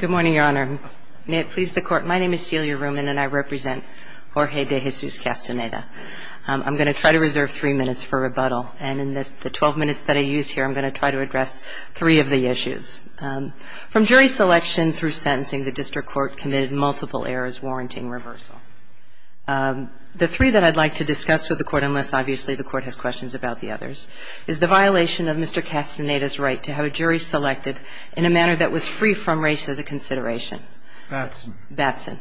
Good morning, Your Honor. May it please the Court, my name is Celia Ruman, and I represent Jorge de Jesus-Casteneda. I'm going to try to reserve three minutes for rebuttal, and in the 12 minutes that I use here, I'm going to try to address three of the issues. From jury selection through sentencing, the District Court committed multiple errors warranting reversal. The three that I'd like to discuss with the Court, unless obviously the Court has questions about the others, is the violation of Mr. Casteneda's right to have a jury selected in a manner that was free from race as a consideration. Batson. Batson.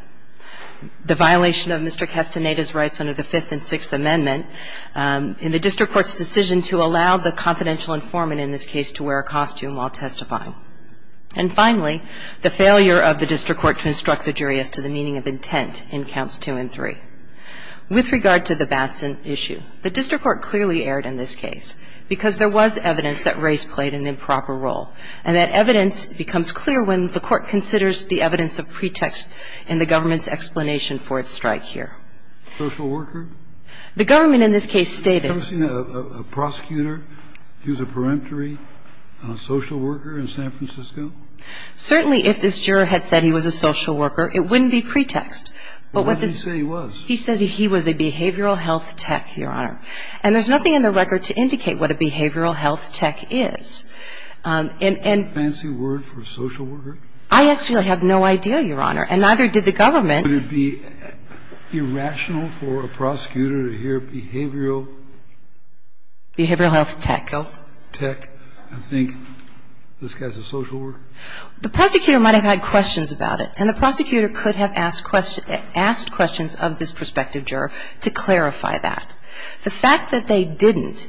The violation of Mr. Casteneda's rights under the Fifth and Sixth Amendment in the District Court's decision to allow the confidential informant in this case to wear a costume while testifying. And finally, the failure of the District Court to instruct the jury as to the meaning of intent in Counts 2 and 3. With regard to the Batson issue, the District Court clearly erred in this case because there was evidence that race played an improper role, and that evidence becomes clear when the Court considers the evidence of pretext in the government's explanation for its strike here. Social worker? The government in this case stated that. Have you ever seen a prosecutor use a peremptory on a social worker in San Francisco? Certainly if this juror had said he was a social worker, it wouldn't be pretext. Well, what did he say he was? He says he was a behavioral health tech, Your Honor. And there's nothing in the record to indicate what a behavioral health tech is. Fancy word for social worker? I actually have no idea, Your Honor, and neither did the government. Would it be irrational for a prosecutor to hear behavioral? Behavioral health tech. Tech. I think this guy's a social worker. The prosecutor might have had questions about it. And the prosecutor could have asked questions of this prospective juror to clarify that. The fact that they didn't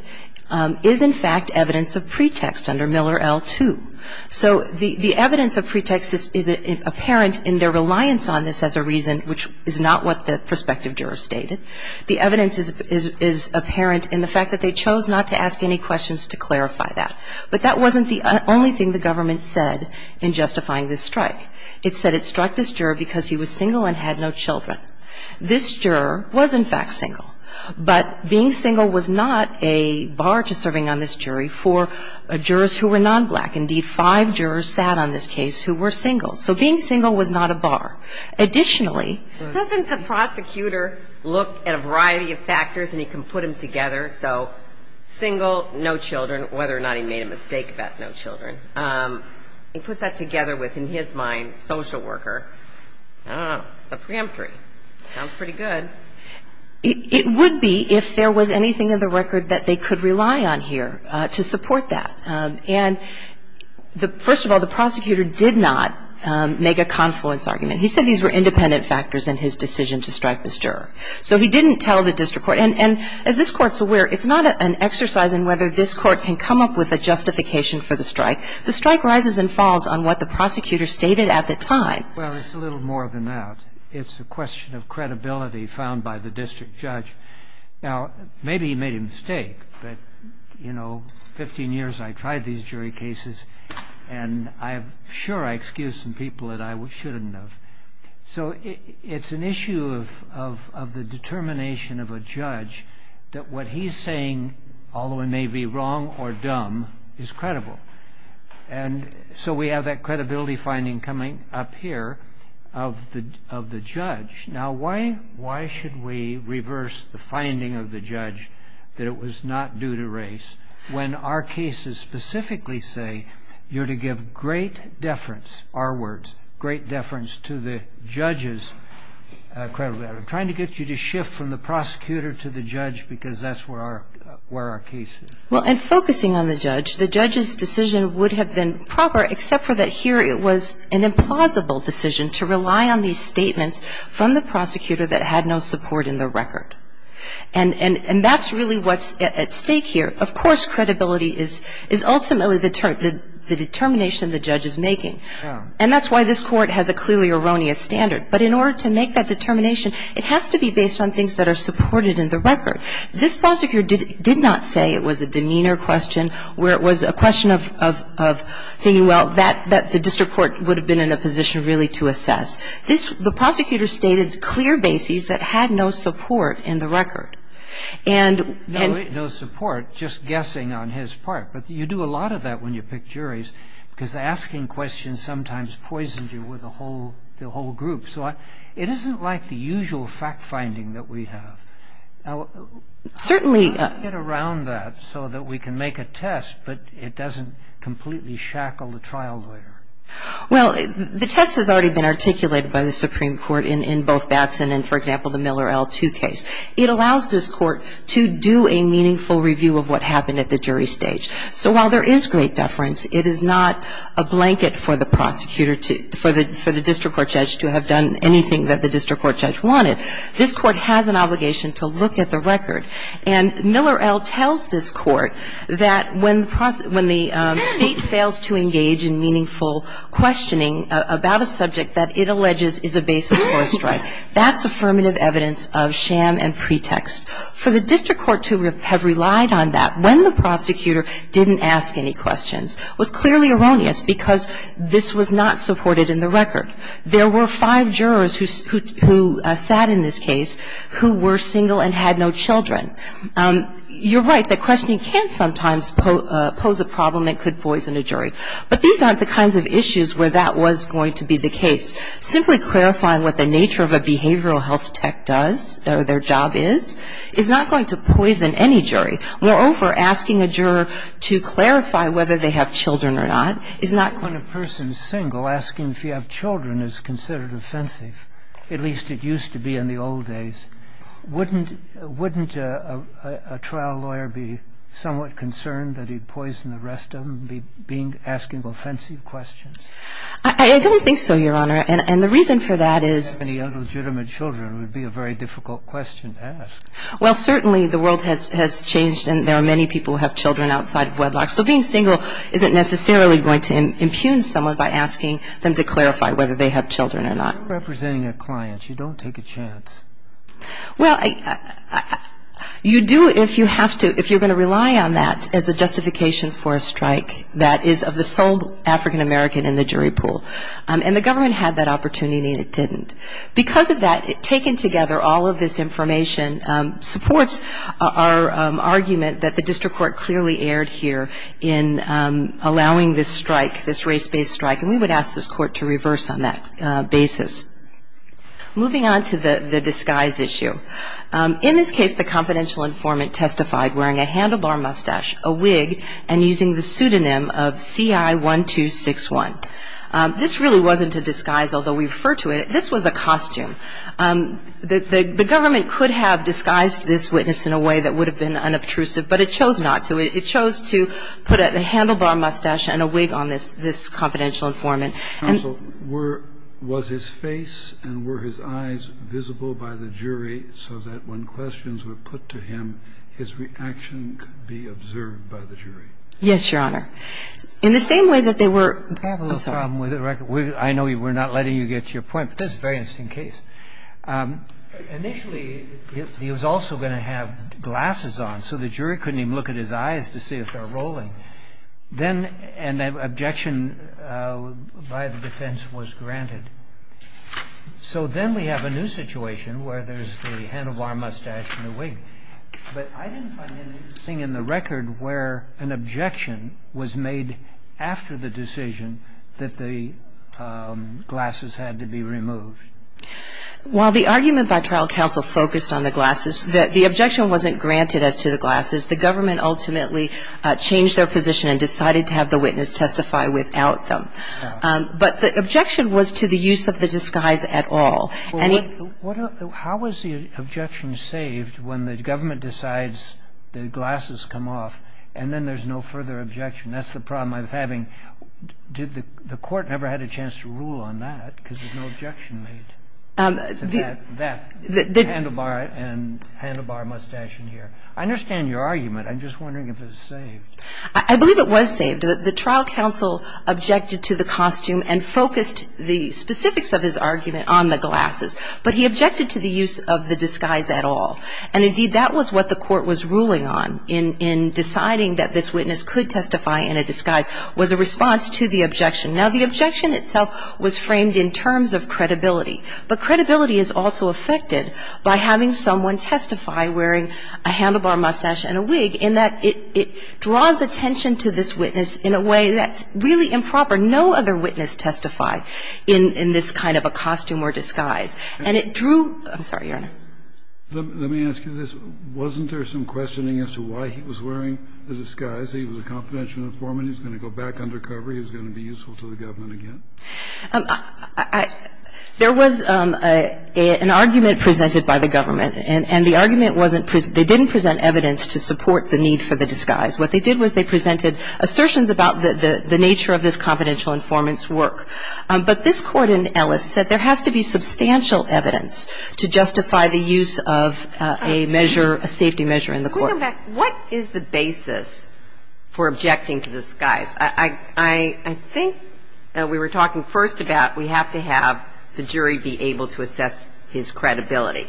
is, in fact, evidence of pretext under Miller L2. So the evidence of pretext is apparent in their reliance on this as a reason, which is not what the prospective juror stated. The evidence is apparent in the fact that they chose not to ask any questions to clarify that. But that wasn't the only thing the government said in justifying this strike. It said it struck this juror because he was single and had no children. This juror was, in fact, single. But being single was not a bar to serving on this jury for jurors who were nonblack. Indeed, five jurors sat on this case who were single. So being single was not a bar. Additionally ---- Doesn't the prosecutor look at a variety of factors and he can put them together? So single, no children, whether or not he made a mistake about no children. He puts that together with, in his mind, social worker. I don't know. It's a preemptory. Sounds pretty good. It would be if there was anything in the record that they could rely on here to support that. And first of all, the prosecutor did not make a confluence argument. He said these were independent factors in his decision to strike this juror. So he didn't tell the district court. And as this Court's aware, it's not an exercise in whether this Court can come up with a justification for the strike. The strike rises and falls on what the prosecutor stated at the time. Well, it's a little more than that. It's a question of credibility found by the district judge. Now, maybe he made a mistake, but, you know, 15 years I tried these jury cases, and I'm sure I excused some people that I shouldn't have. So it's an issue of the determination of a judge that what he's saying, although it may be wrong or dumb, is credible. And so we have that credibility finding coming up here of the judge. Now, why should we reverse the finding of the judge that it was not due to race when our cases specifically say you're to give great deference, our words, great deference to the judge's credibility. I'm trying to get you to shift from the prosecutor to the judge because that's where our case is. Well, in focusing on the judge, the judge's decision would have been proper, except for that here it was an implausible decision to rely on these statements from the prosecutor that had no support in the record. And that's really what's at stake here. Of course, credibility is ultimately the determination the judge is making. And that's why this Court has a clearly erroneous standard. But in order to make that determination, it has to be based on things that are supported in the record. This prosecutor did not say it was a demeanor question where it was a question of thinking, well, that the district court would have been in a position really to assess. The prosecutor stated clear bases that had no support in the record. And ‑‑ No support, just guessing on his part. But you do a lot of that when you pick juries because asking questions sometimes is a little bit strange. And it's not like the usual fact‑finding that we have. Certainly ‑‑ I want to get around that so that we can make a test, but it doesn't completely shackle the trial lawyer. Well, the test has already been articulated by the Supreme Court in both Batson and, for example, the Miller L. Too case. It allows this Court to do a meaningful review of what happened at the jury stage. So while there is great deference, it is not a blanket for the prosecutor to ‑‑ for the district court judge to have done anything that the district court judge wanted. This Court has an obligation to look at the record. And Miller L. tells this Court that when the state fails to engage in meaningful questioning about a subject that it alleges is a basis for a strike, that's affirmative evidence of sham and pretext. For the district court to have relied on that when the prosecutor didn't ask any questions was clearly erroneous because this was not supported in the record. There were five jurors who sat in this case who were single and had no children. You're right that questioning can sometimes pose a problem that could poison a jury. But these aren't the kinds of issues where that was going to be the case. Simply clarifying what the nature of a behavioral health tech does or their job is, is not going to poison any jury. Moreover, asking a juror to clarify whether they have children or not is not going to ‑‑ When a person is single, asking if you have children is considered offensive, at least it used to be in the old days. Wouldn't a trial lawyer be somewhat concerned that he'd poison the rest of them by asking offensive questions? I don't think so, Your Honor. And the reason for that is ‑‑ If you have any illegitimate children, it would be a very difficult question to ask. Well, certainly the world has changed and there are many people who have children outside of wedlock. So being single isn't necessarily going to impugn someone by asking them to clarify whether they have children or not. You're representing a client. You don't take a chance. Well, you do if you have to, if you're going to rely on that as a justification for a strike that is of the sole African American in the jury pool. And the government had that opportunity and it didn't. Because of that, taken together, all of this information supports our argument that the district court clearly erred here in allowing this strike, this race-based strike, and we would ask this court to reverse on that basis. Moving on to the disguise issue. In this case, the confidential informant testified wearing a handlebar mustache, a wig, and using the pseudonym of CI1261. This really wasn't a disguise, although we refer to it. This was a costume. The government could have disguised this witness in a way that would have been unobtrusive, but it chose not to. It chose to put a handlebar mustache and a wig on this confidential informant. Counsel, was his face and were his eyes visible by the jury so that when questions were put to him, his reaction could be observed by the jury? Yes, Your Honor. In the same way that they were ---- We have a little problem with the record. I know we're not letting you get to your point, but this is a very interesting case. Initially, he was also going to have glasses on, so the jury couldn't even look at his eyes to see if they were rolling. Then an objection by the defense was granted. So then we have a new situation where there's the handlebar mustache and the wig. But I didn't find anything in the record where an objection was made after the decision that the glasses had to be removed. While the argument by trial counsel focused on the glasses, the objection wasn't granted as to the glasses. The government ultimately changed their position and decided to have the witness testify without them. But the objection was to the use of the disguise at all. How was the objection saved when the government decides the glasses come off and then there's no further objection? That's the problem I'm having. The court never had a chance to rule on that because there's no objection made to that handlebar and handlebar mustache in here. I understand your argument. I'm just wondering if it was saved. I believe it was saved. The trial counsel objected to the costume and focused the specifics of his argument on the glasses. But he objected to the use of the disguise at all. And, indeed, that was what the court was ruling on in deciding that this witness could testify in a disguise was a response to the objection. Now, the objection itself was framed in terms of credibility. But credibility is also affected by having someone testify wearing a handlebar mustache and a wig in that it draws attention to this witness in a way that's really improper. No other witness testified in this kind of a costume or disguise. And it drew – I'm sorry, Your Honor. Let me ask you this. Wasn't there some questioning as to why he was wearing the disguise? He was a confidential informant. He was going to go back undercover. He was going to be useful to the government again. There was an argument presented by the government. And the argument wasn't – they didn't present evidence to support the need for the disguise. What they did was they presented assertions about the nature of this confidential informant's work. But this Court in Ellis said there has to be substantial evidence to justify the use of a measure, a safety measure in the court. What is the basis for objecting to the disguise? I think we were talking first about we have to have the jury be able to assess his credibility.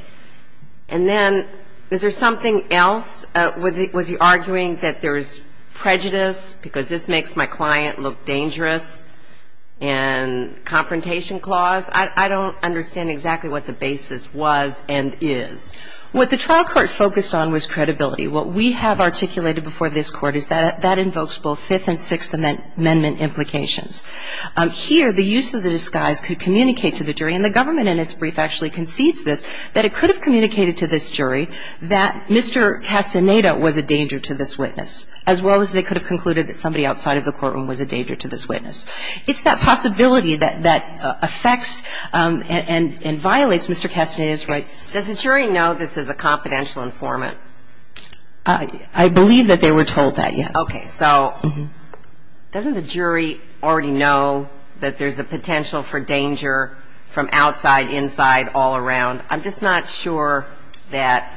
And then is there something else? Was he arguing that there's prejudice because this makes my client look dangerous and confrontation clause? I don't understand exactly what the basis was and is. What the trial court focused on was credibility. What we have articulated before this Court is that that invokes both Fifth and Sixth Amendment implications. Here, the use of the disguise could communicate to the jury, and the government in its brief actually concedes this, that it could have communicated to this jury that Mr. Castaneda was a danger to this witness, as well as they could have concluded that somebody outside of the courtroom was a danger to this witness. It's that possibility that affects and violates Mr. Castaneda's rights. Does the jury know this is a confidential informant? I believe that they were told that, yes. Okay. So doesn't the jury already know that there's a potential for danger from outside, inside, all around? I'm just not sure that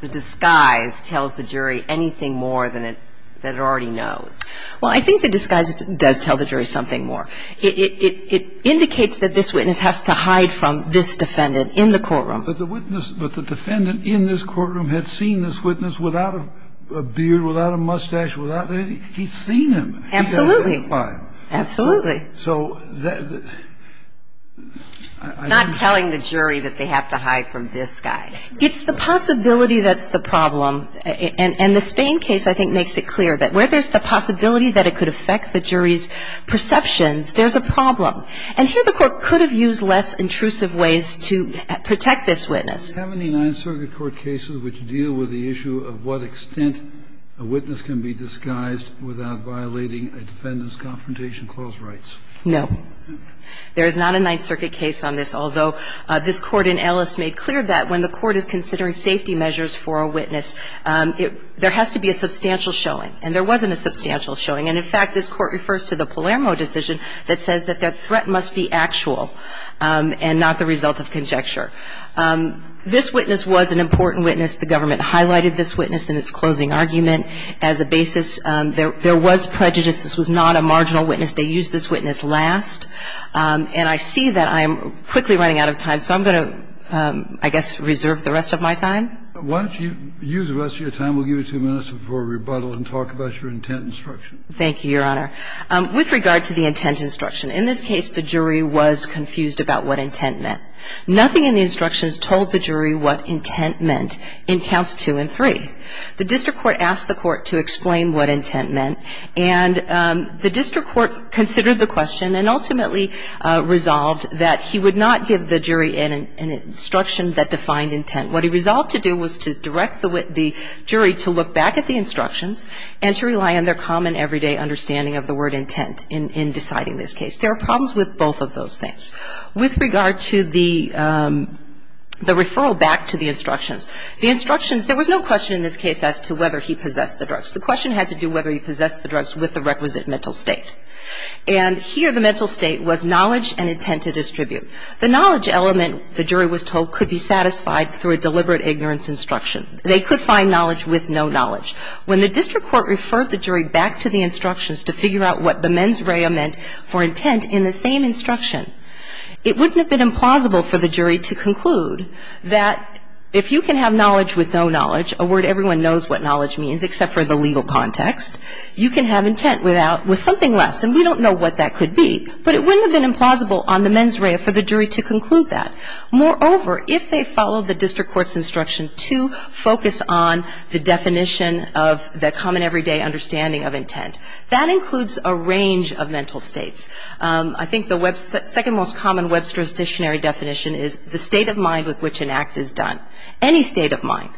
the disguise tells the jury anything more than it already knows. Well, I think the disguise does tell the jury something more. It indicates that this witness has to hide from this defendant in the courtroom. But the witness, but the defendant in this courtroom had seen this witness without a beard, without a mustache, without anything. He'd seen him. Absolutely. He's identified. Absolutely. It's not telling the jury that they have to hide from this guy. It's the possibility that's the problem. And the Spain case, I think, makes it clear that where there's the possibility that it could affect the jury's perceptions, there's a problem. And here the Court could have used less intrusive ways to protect this witness. Do you have any Ninth Circuit court cases which deal with the issue of what extent a witness can be disguised without violating a defendant's Confrontation Clause rights? No. There is not a Ninth Circuit case on this, although this Court in Ellis made clear that when the Court is considering safety measures for a witness, there has to be a substantial showing. And there wasn't a substantial showing. And in fact, this Court refers to the Palermo decision that says that the threat must be actual and not the result of conjecture. This witness was an important witness. The government highlighted this witness in its closing argument as a basis. There was prejudice. This was not a marginal witness. They used this witness last. And I see that I am quickly running out of time, so I'm going to, I guess, reserve the rest of my time. Why don't you use the rest of your time? We'll give you two minutes before rebuttal and talk about your intent and structure. Thank you, Your Honor. With regard to the intent instruction, in this case, the jury was confused about what intent meant. Nothing in the instructions told the jury what intent meant in counts two and three. The district court asked the court to explain what intent meant, and the district court considered the question and ultimately resolved that he would not give the jury an instruction that defined intent. What he resolved to do was to direct the jury to look back at the instructions and to rely on their common everyday understanding of the word intent in deciding this case. There are problems with both of those things. With regard to the referral back to the instructions, the instructions, there was no question in this case as to whether he possessed the drugs. The question had to do whether he possessed the drugs with the requisite mental state. And here the mental state was knowledge and intent to distribute. The knowledge element, the jury was told, could be satisfied through a deliberate ignorance instruction. They could find knowledge with no knowledge. When the district court referred the jury back to the instructions to figure out what the mens rea meant for intent in the same instruction, it wouldn't have been implausible for the jury to conclude that if you can have knowledge with no knowledge, a word everyone knows what knowledge means except for the legal context, you can have intent with something less. And we don't know what that could be, but it wouldn't have been implausible on the mens rea for the jury to conclude that. Moreover, if they followed the district court's instruction to focus on the definition of the common everyday understanding of intent, that includes a range of mental states. I think the second most common Webster's dictionary definition is the state of mind with which an act is done. Any state of mind.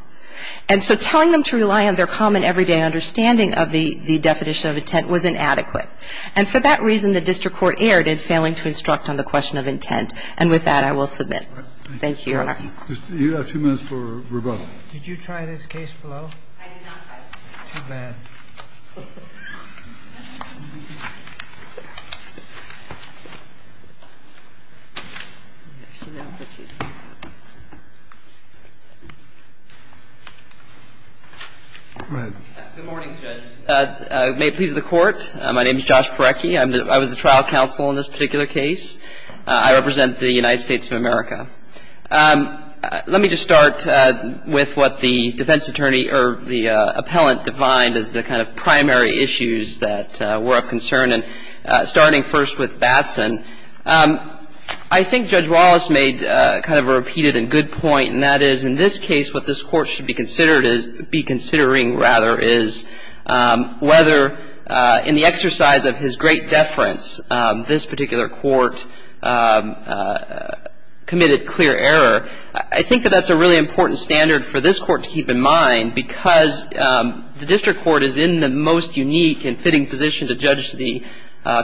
And so telling them to rely on their common everyday understanding of the definition of intent was inadequate. And for that reason, the district court erred in failing to instruct on the question of intent. And with that, I will submit. Thank you, Your Honor. You have two minutes for rebuttal. Did you try this case below? I did not. Too bad. Go ahead. Good morning, Judge. May it please the Court. My name is Josh Parecki. I was the trial counsel in this particular case. I represent the United States of America. Let me just start with what the defense attorney or the appellant defined as the kind of primary issues that were of concern. And starting first with Batson, I think Judge Wallace made kind of a repeated and good point, and that is in this case what this Court should be considered is be considering rather is whether in the exercise of his great deference, this particular court committed clear error. I think that that's a really important standard for this Court to keep in mind because the district court is in the most unique and fitting position to judge the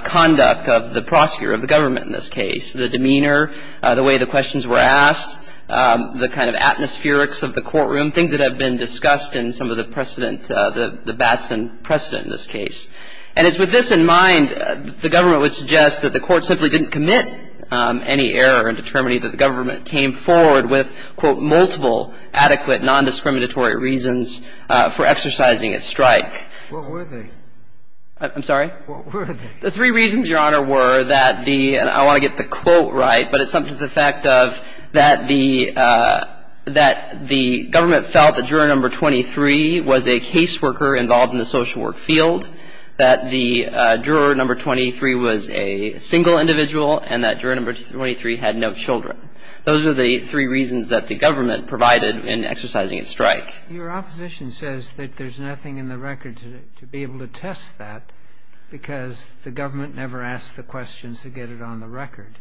conduct of the prosecutor, of the government in this case, the demeanor, the way the questions were asked, the kind of atmospherics of the courtroom, things that have been discussed in some of the precedent, the Batson precedent in this case. And it's with this in mind that the government would suggest that the Court simply didn't commit any error in determining that the government came forward with, quote, multiple adequate nondiscriminatory reasons for exercising its strike. What were they? I'm sorry? What were they? The three reasons, Your Honor, were that the, and I want to get the quote right, but it's something to the effect of that the government felt that juror number 23 was a caseworker involved in the social work field, that the juror number 23 was a single individual, and that juror number 23 had no children. Those are the three reasons that the government provided in exercising its strike. Your opposition says that there's nothing in the record to be able to test that because the government never asked the questions to get it on the record.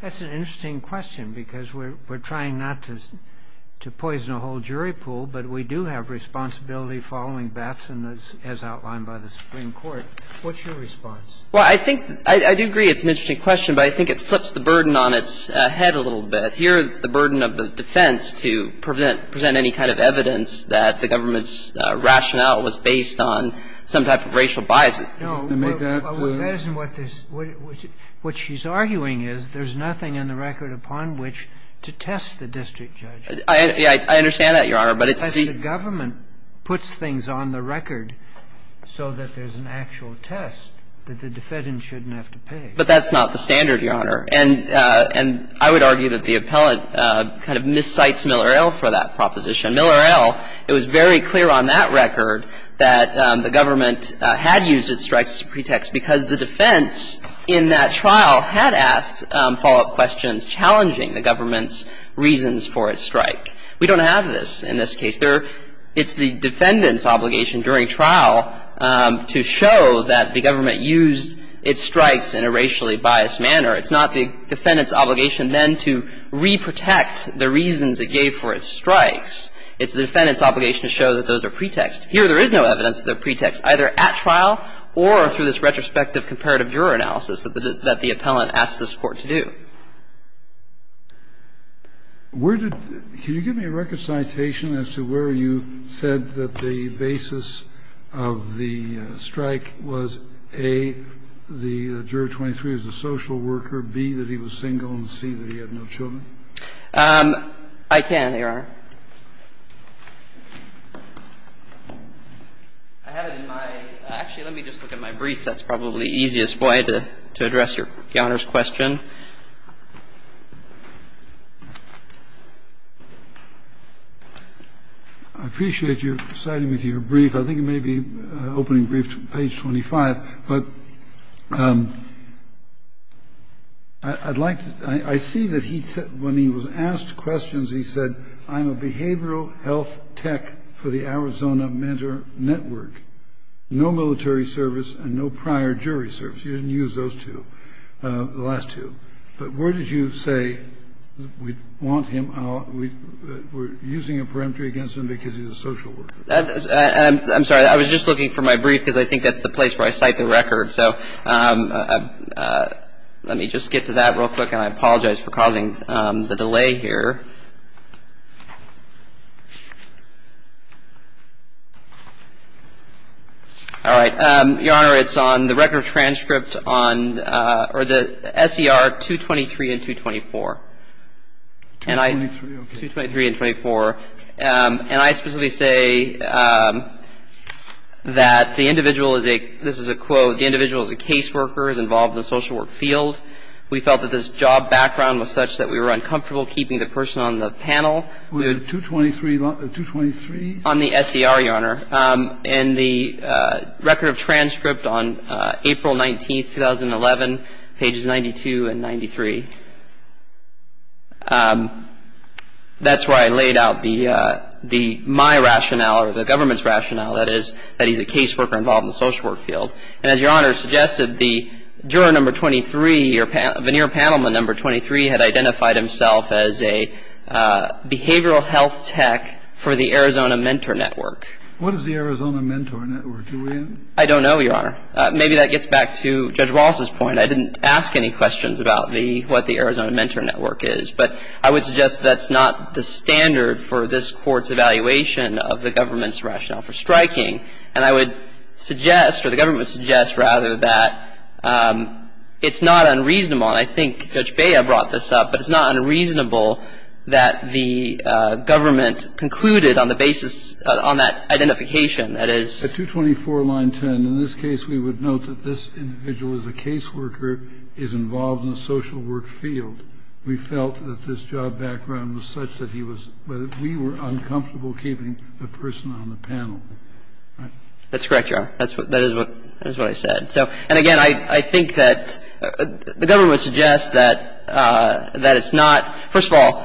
That's an interesting question because we're trying not to poison a whole jury pool, but we do have responsibility following Batson, as outlined by the Supreme Court. What's your response? Well, I think, I do agree it's an interesting question, but I think it flips the burden on its head a little bit. Here it's the burden of the defense to prevent, present any kind of evidence that the government's rationale was based on some type of racial bias. No, but that isn't what this, what she's arguing is there's nothing in the record upon which to test the district judge. I understand that, Your Honor, but it's the the government puts things on the record so that there's an actual test that the defendant shouldn't have to pay. But that's not the standard, Your Honor. And I would argue that the appellant kind of miscites Miller-Ell for that proposition. Miller-Ell, it was very clear on that record that the government had used its strikes as a pretext because the defense in that trial had asked follow-up questions about whether or not it was challenging the government's reasons for its strike. We don't have this in this case. It's the defendant's obligation during trial to show that the government used its strikes in a racially biased manner. It's not the defendant's obligation then to re-protect the reasons it gave for its strikes. It's the defendant's obligation to show that those are pretexts. Here there is no evidence that they're pretexts, either at trial or through this case. And I think that's the case. I think that's the case. I think that's the case. Thank you. Kennedy. Where did the Can you give me a record citation as to where you said that the basis of the strike was, A, the juror 23 was a social worker, B, that he was single, and C, that he had no children? I can, Your Honor. I have it in my – actually, let me just look at my brief. That's probably the easiest way to address Your Honor's question. I appreciate you citing me to your brief. I think it may be opening brief to page 25. But I'd like to – I see that he – when he was asked questions, he said, I am not a behavioral health tech for the Arizona Mentor Network. No military service and no prior jury service. You didn't use those two, the last two. But where did you say we want him – we're using a peremptory against him because he's a social worker? I'm sorry. I was just looking for my brief because I think that's the place where I cite the record. So let me just get to that real quick. And I apologize for causing the delay here. All right. Your Honor, it's on the record transcript on – or the SER 223 and 224. 223, okay. And I specifically say that the individual is a – this is a quote, the individual is a caseworker, is involved in the social work field. We felt that this job background was such that we were uncomfortable keeping the person on the panel. The 223 – the 223? On the SER, Your Honor. And the record of transcript on April 19, 2011, pages 92 and 93. That's where I laid out the – my rationale or the government's rationale, that is, that he's a caseworker involved in the social work field. And as Your Honor suggested, the juror number 23, your – veneer panel member number 23, had identified himself as a behavioral health tech for the Arizona Mentor Network. What is the Arizona Mentor Network? Do we know? I don't know, Your Honor. Maybe that gets back to Judge Ross's point. I didn't ask any questions about the – what the Arizona Mentor Network is. But I would suggest that's not the standard for this Court's evaluation of the government's rationale for striking. And I would suggest, or the government would suggest, rather, that it's not unreasonable. And I think Judge Bea brought this up, but it's not unreasonable that the government concluded on the basis – on that identification, that is – The 224, line 10. In this case, we would note that this individual is a caseworker, is involved in the social work field. We felt that this job background was such that he was – that we were uncomfortable keeping the person on the panel. Right? That's correct, Your Honor. That is what I said. And again, I think that the government would suggest that it's not – first of all,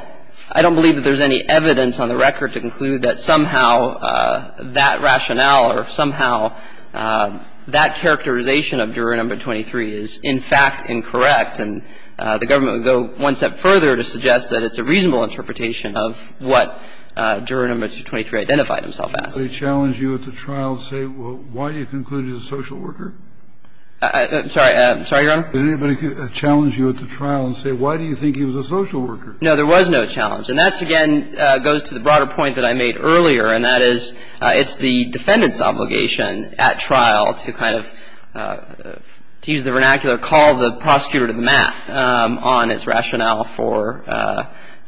I don't believe that there's any evidence on the record to conclude that somehow that rationale or somehow that characterization of juror number 23 is, in fact, incorrect, and the government would go one step further to suggest that it's a reasonable interpretation of what juror number 23 identified himself as. Kennedy. I'm sorry. I'm sorry, Your Honor. Did anybody challenge you at the trial and say, why do you think he was a social worker? No, there was no challenge. And that, again, goes to the broader point that I made earlier, and that is, it's the defendant's obligation at trial to kind of – to use the vernacular, call the prosecutor to the mat on its rationale for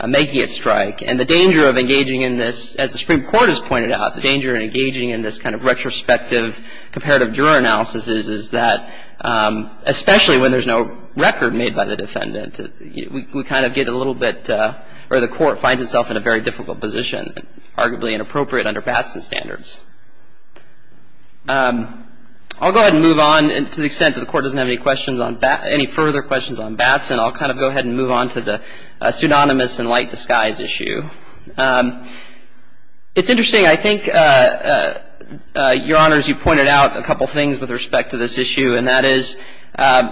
making its strike. And the danger of engaging in this, as the Supreme Court has pointed out, the danger of engaging in this kind of retrospective comparative juror analysis is that, especially when there's no record made by the defendant, we kind of get a little bit – or the Court finds itself in a very difficult position, arguably inappropriate under Batson standards. I'll go ahead and move on, to the extent that the Court doesn't have any questions on – any further questions on Batson. I'll kind of go ahead and move on to the pseudonymous and light disguise issue. It's interesting. I think, Your Honors, you pointed out a couple things with respect to this issue, and that is,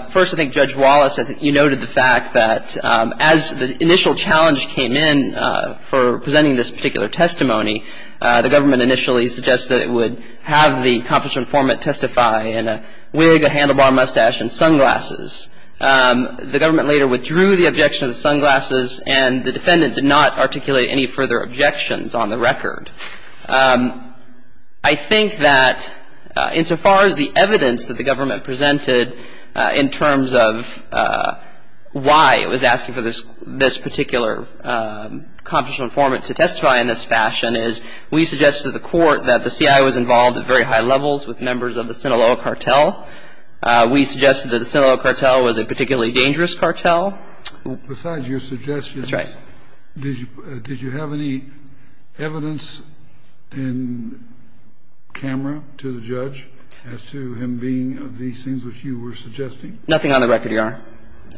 first, I think Judge Wallace, I think you noted the fact that as the initial challenge came in for presenting this particular testimony, the government initially suggested it would have the accomplishment informant testify in a wig, a handlebar mustache, and sunglasses. The government later withdrew the objection to the sunglasses, and the defendant did not articulate any further objections on the record. I think that, insofar as the evidence that the government presented in terms of why it was asking for this particular accomplishment informant to testify in this fashion is, we suggested to the Court that the CIA was involved at very high levels with members of the Sinaloa cartel. We suggested that the Sinaloa cartel was a particularly dangerous cartel. Besides your suggestions, did you have any evidence in camera to the judge as to him being of these things which you were suggesting? Nothing on the record, Your Honor.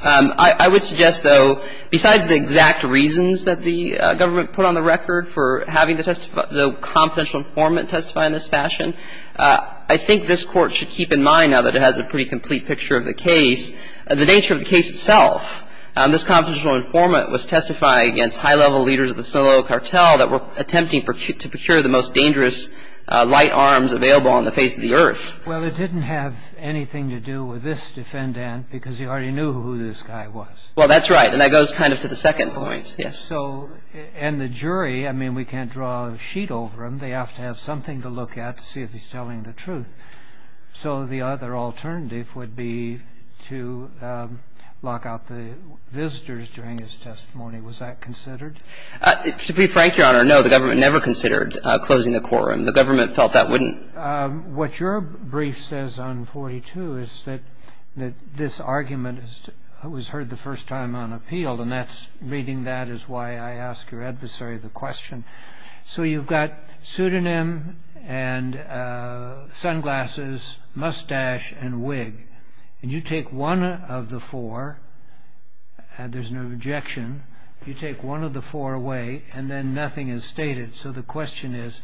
I would suggest, though, besides the exact reasons that the government put on the record for having the confidential informant testify in this fashion, I think this Court should keep in mind, now that it has a pretty complete picture of the case, the nature of the case itself. This confidential informant was testifying against high-level leaders of the Sinaloa cartel that were attempting to procure the most dangerous light arms available on the face of the earth. Well, it didn't have anything to do with this defendant, because you already knew who this guy was. Well, that's right, and that goes kind of to the second point, yes. And the jury, I mean, we can't draw a sheet over them. They have to have something to look at to see if he's telling the truth. So the other alternative would be to lock out the visitors during his testimony. Was that considered? To be frank, Your Honor, no. The government never considered closing the courtroom. The government felt that wouldn't. What your brief says on 42 is that this argument was heard the first time on appeal, and reading that is why I ask your adversary the question. So you've got pseudonym and sunglasses, mustache, and wig. And you take one of the four, and there's no objection. You take one of the four away, and then nothing is stated. So the question is,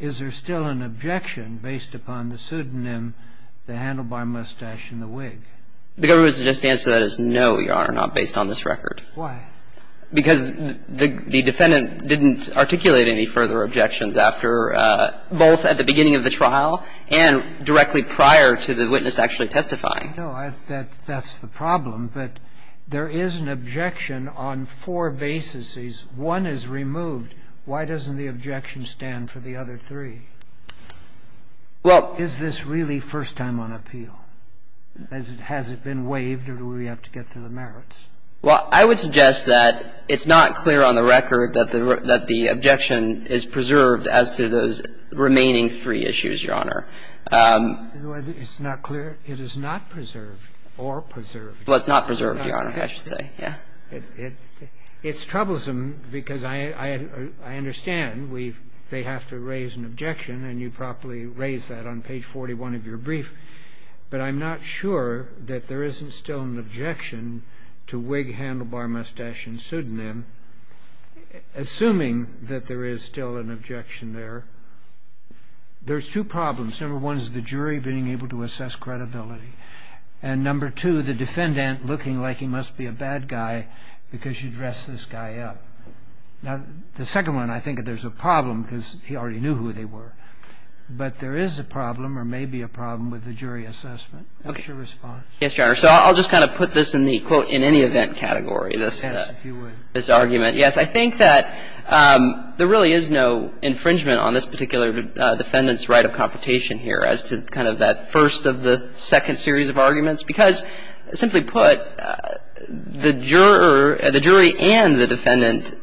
is there still an objection based upon the pseudonym, the handlebar mustache, and the wig? The government's answer to that is no, Your Honor, not based on this record. Why? Because the defendant didn't articulate any further objections after both at the beginning of the trial and directly prior to the witness actually testifying. No. That's the problem. But there is an objection on four bases. One is removed. Why doesn't the objection stand for the other three? Is this really first time on appeal? Has it been waived, or do we have to get to the merits? Well, I would suggest that it's not clear on the record that the objection is preserved as to those remaining three issues, Your Honor. It's not clear? It is not preserved or preserved. Well, it's not preserved, Your Honor, I should say. Yeah. It's troublesome, because I understand they have to raise an objection, and you properly raised that on page 41 of your brief. But I'm not sure that there isn't still an objection to wig, handlebar, mustache, and pseudonym. Assuming that there is still an objection there, there's two problems. Number one is the jury being able to assess credibility. And number two, the defendant looking like he must be a bad guy because you dressed this guy up. Now, the second one, I think there's a problem, because he already knew who they were. But there is a problem, or maybe a problem, with the jury assessment. What's your response? Yes, Your Honor. So I'll just kind of put this in the, quote, in any event category, this argument. Yes, I think that there really is no infringement on this particular defendant's right of confrontation here as to kind of that first of the second series of arguments, because simply put, the juror, the jury and the defendant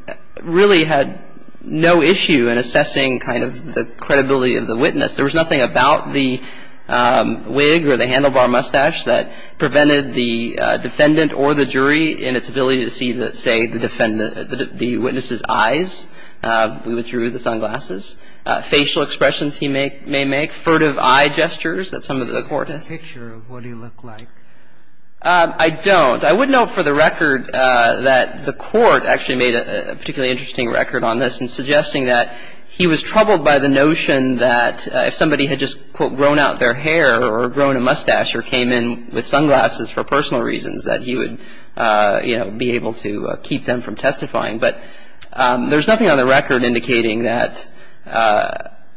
really had no issue in assessing kind of the credibility of the witness. There was nothing about the wig or the handlebar mustache that prevented the defendant or the jury in its ability to see, say, the witness's eyes. We withdrew the sunglasses. Facial expressions he may make, furtive eye gestures that some of the court has. What's the picture of what he looked like? I don't. I would note for the record that the court actually made a particularly interesting record on this in suggesting that he was troubled by the notion that if somebody had just, quote, grown out their hair or grown a mustache or came in with sunglasses for personal reasons, that he would, you know, be able to keep them from testifying. But there's nothing on the record indicating that,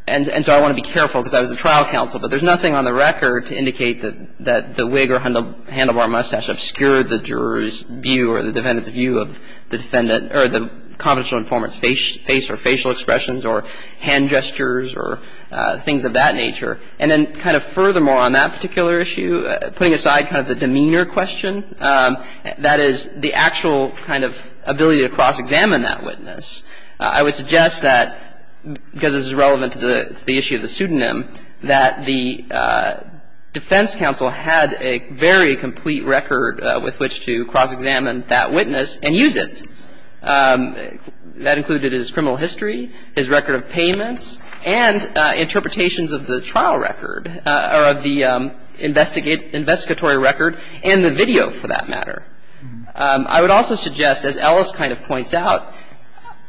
and so I want to be careful because I was the trial counsel, but there's nothing on the record to indicate that the wig or handlebar mustache obscured the juror's view or the defendant's view of the defendant or the confidential informant's face or facial expressions or hand gestures or things of that nature. And then kind of furthermore on that particular issue, putting aside kind of the demeanor question, that is, the actual kind of ability to cross-examine that witness, I would suggest that because this is relevant to the issue of the pseudonym, that the defense counsel had a very complete record with which to cross-examine that witness and use it. That included his criminal history, his record of payments, and interpretations of the trial record or of the investigatory record and the video, for that matter. I would also suggest, as Ellis kind of points out,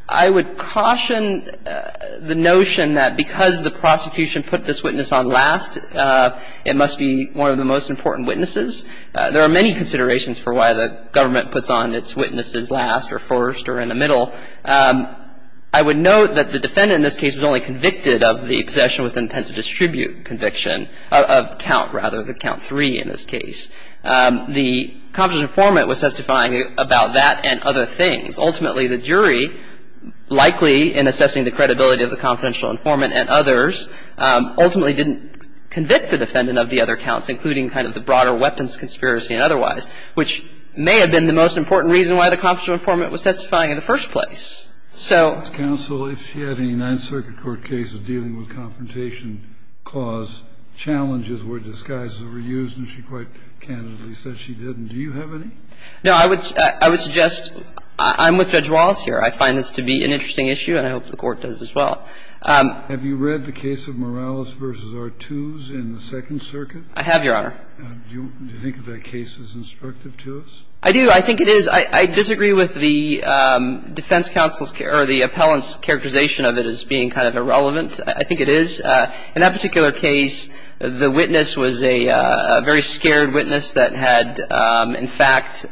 I would caution the notion that because the prosecution put this witness on last, it must be one of the most important witnesses. There are many considerations for why the government puts on its witnesses last or first or in the middle. I would note that the defendant in this case was only convicted of the possession with intent to distribute conviction, of count, rather, of count three in this case. The confidential informant was testifying about that and other things. Ultimately, the jury, likely in assessing the credibility of the confidential informant and others, ultimately didn't convict the defendant of the other counts, including kind of the broader weapons conspiracy and otherwise, which may have been the most important reason why the confidential informant was testifying in the first place. So ---- Kennedy. Counsel, if she had any Ninth Circuit court cases dealing with confrontation clause challenges where disguises were used, and she quite candidly said she didn't, do you have any? No, I would suggest ---- I'm with Judge Wallace here. I find this to be an interesting issue, and I hope the Court does as well. Have you read the case of Morales v. Artuse in the Second Circuit? I have, Your Honor. Do you think that case is instructive to us? I do. I think it is. I disagree with the defense counsel's or the appellant's characterization of it as being kind of irrelevant. I think it is. In that particular case, the witness was a very scared witness that had, in fact,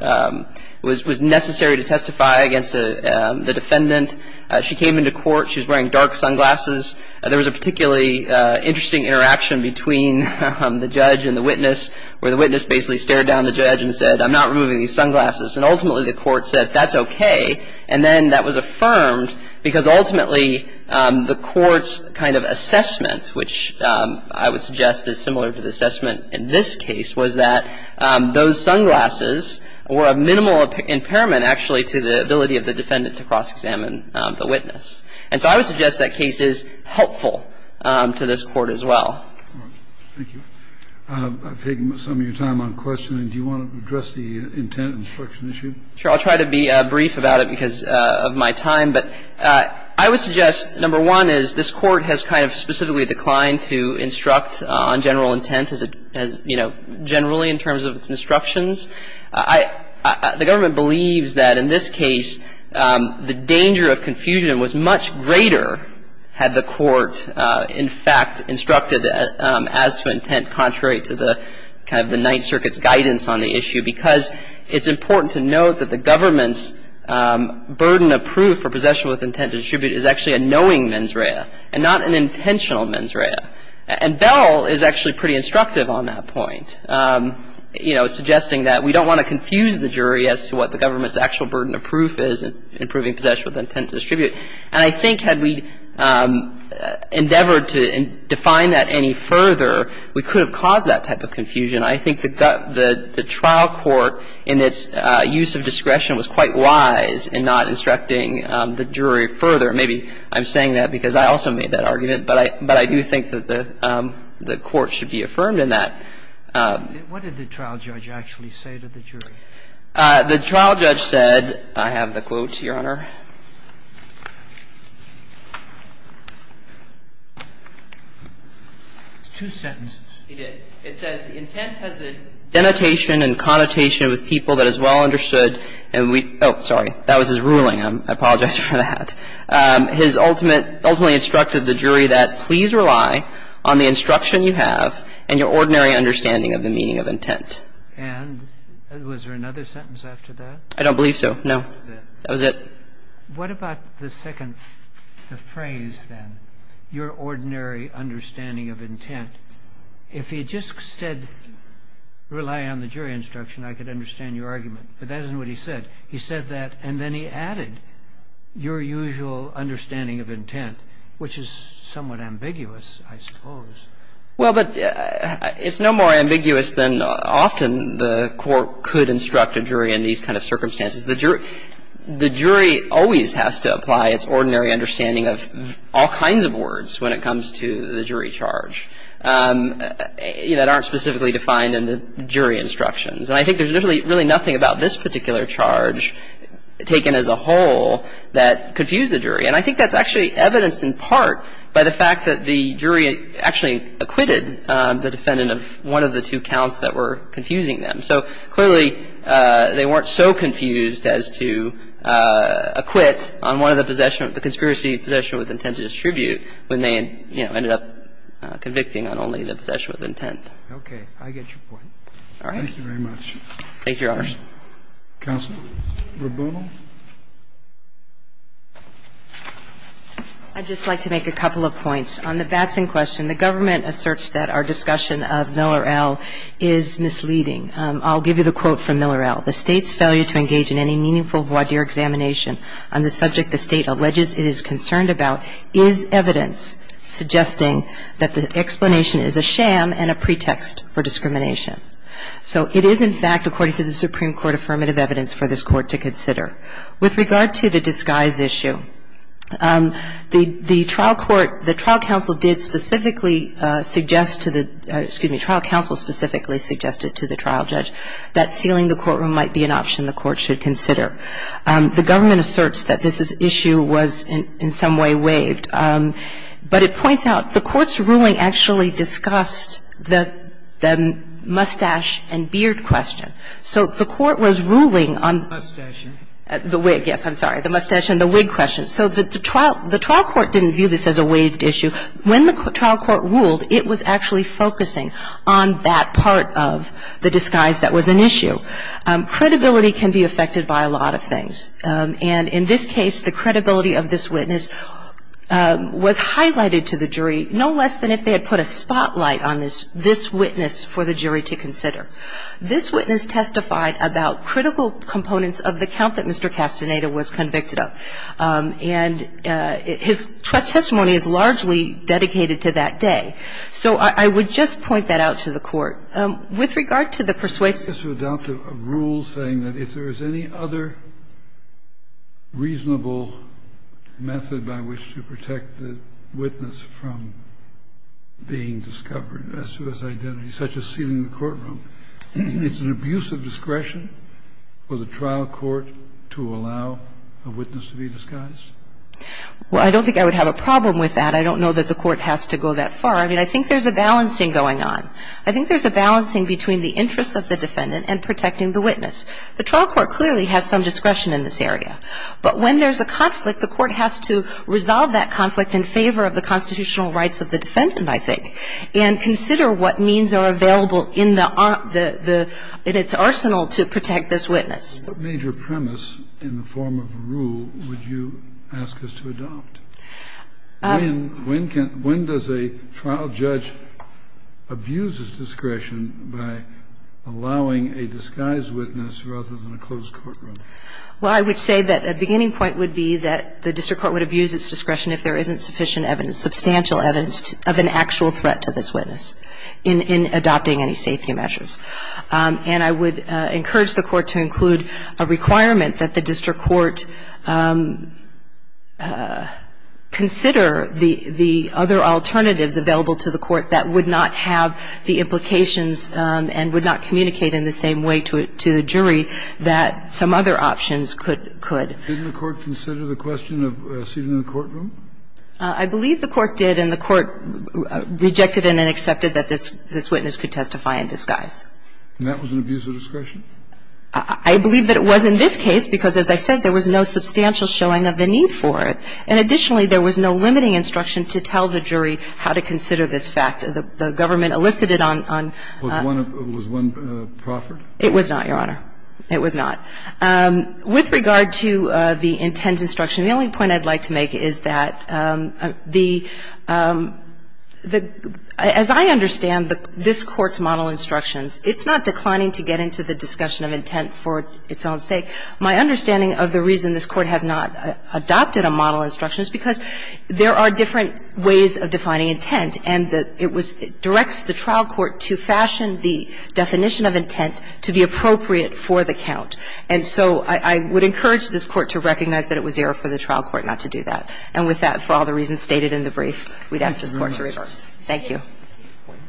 was necessary to testify against the defendant. She came into court. She was wearing dark sunglasses. There was a particularly interesting interaction between the judge and the witness where the witness basically stared down the judge and said, I'm not removing these sunglasses. And ultimately, the court said, that's okay. And then that was affirmed because ultimately, the court's kind of assessment, which I would suggest is similar to the assessment in this case, was that those sunglasses were a minimal impairment, actually, to the ability of the defendant to cross-examine the witness. And so I would suggest that case is helpful to this Court as well. Thank you. I've taken some of your time on questioning. Do you want to address the intent instruction issue? Sure. I'll try to be brief about it because of my time. But I would suggest, number one, is this Court has kind of specifically declined to instruct on general intent as, you know, generally in terms of its instructions. The government believes that in this case, the danger of confusion was much greater had the Court, in fact, instructed as to intent contrary to the kind of the Ninth And so I think that there is a lot of evidence on the issue because it's important to note that the government's burden of proof for possession with intent to distribute is actually a knowing mens rea and not an intentional mens rea. And Bell is actually pretty instructive on that point, you know, suggesting that we don't want to confuse the jury as to what the government's actual burden of proof is in proving possession with intent to distribute. And I think had we endeavored to define that any further, we could have caused that type of confusion. I think the trial court in its use of discretion was quite wise in not instructing the jury further. Maybe I'm saying that because I also made that argument, but I do think that the Court should be affirmed in that. What did the trial judge actually say to the jury? The trial judge said, I have the quote, Your Honor. It's two sentences. He did. It says, The intent has a denotation and connotation with people that is well understood and we – oh, sorry. That was his ruling. I apologize for that. His ultimate – ultimately instructed the jury that please rely on the instruction you have and your ordinary understanding of the meaning of intent. And was there another sentence after that? I don't believe so, no. That was it. What about the second – the phrase then, your ordinary understanding of intent? If he just said rely on the jury instruction, I could understand your argument. But that isn't what he said. He said that and then he added your usual understanding of intent, which is somewhat ambiguous, I suppose. Well, but it's no more ambiguous than often the court could instruct a jury in these kind of circumstances. The jury always has to apply its ordinary understanding of all kinds of words when it comes to the jury charge that aren't specifically defined in the jury instructions. And I think there's really nothing about this particular charge taken as a whole that confused the jury. And I think that's actually evidenced in part by the fact that the jury actually acquitted the defendant of one of the two counts that were confusing them. So clearly, they weren't so confused as to acquit on one of the possession of the conspiracy possession with intent to distribute when they, you know, ended up convicting on only the possession with intent. Okay. I get your point. All right. Thank you very much. Thank you, Your Honors. Counsel. Ms. Rebuno. I'd just like to make a couple of points. On the Batson question, the government asserts that our discussion of Miller-El is misleading. I'll give you the quote from Miller-El. The State's failure to engage in any meaningful voir dire examination on the subject the State alleges it is concerned about is evidence suggesting that the explanation is a sham and a pretext for discrimination. So it is, in fact, according to the Supreme Court, affirmative evidence for this Court to consider. With regard to the disguise issue, the trial court, the trial counsel did specifically suggest to the, excuse me, trial counsel specifically suggested to the trial judge that sealing the courtroom might be an option the Court should consider. The government asserts that this issue was in some way waived. But it points out the Court's ruling actually discussed the mustache and beard question. So the Court was ruling on the wig. Yes, I'm sorry. The mustache and the wig question. So the trial court didn't view this as a waived issue. When the trial court ruled, it was actually focusing on that part of the disguise that was an issue. Credibility can be affected by a lot of things. And in this case, the credibility of this witness was highlighted to the jury, no less than if they had put a spotlight on this witness for the jury to consider. This witness testified about critical components of the count that Mr. Castaneda was convicted of. And his testimony is largely dedicated to that day. So I would just point that out to the Court. With regard to the persuasion. Yes, Your Honor. I would like us to adopt a rule saying that if there is any other reasonable method by which to protect the witness from being discovered as to his identity, such as sealing the courtroom, it's an abuse of discretion for the trial court to allow a witness to be disguised? Well, I don't think I would have a problem with that. I don't know that the Court has to go that far. I mean, I think there's a balancing going on. I think there's a balancing between the interests of the defendant and protecting the witness. The trial court clearly has some discretion in this area. But when there's a conflict, the Court has to resolve that conflict in favor of the constitutional rights of the defendant, I think, and consider what means are available in the – in its arsenal to protect this witness. What major premise in the form of a rule would you ask us to adopt? Well, I would say that the beginning point would be that the district court would abuse its discretion if there isn't sufficient evidence, substantial evidence of an actual threat to this witness in adopting any safety measures. And I would encourage the Court to include a requirement that the district court would consider the other alternatives available to the Court that would not have the implications and would not communicate in the same way to the jury that some other options could. Didn't the Court consider the question of seating in the courtroom? I believe the Court did, and the Court rejected and then accepted that this witness could testify in disguise. And that was an abuse of discretion? I believe that it was in this case because, as I said, there was no substantial showing of the need for it. And additionally, there was no limiting instruction to tell the jury how to consider this fact. The government elicited on – on – Was one – was one proffered? It was not, Your Honor. It was not. With regard to the intent instruction, the only point I'd like to make is that the – the – as I understand this Court's model instructions, it's not declining to get into the discussion of intent for its own sake. My understanding of the reason this Court has not adopted a model instruction is because there are different ways of defining intent. And it was – it directs the trial court to fashion the definition of intent to be appropriate for the count. And so I would encourage this Court to recognize that it was error for the trial court not to do that. And with that, for all the reasons stated in the brief, we'd ask this Court to reverse. Thank you. Thank you.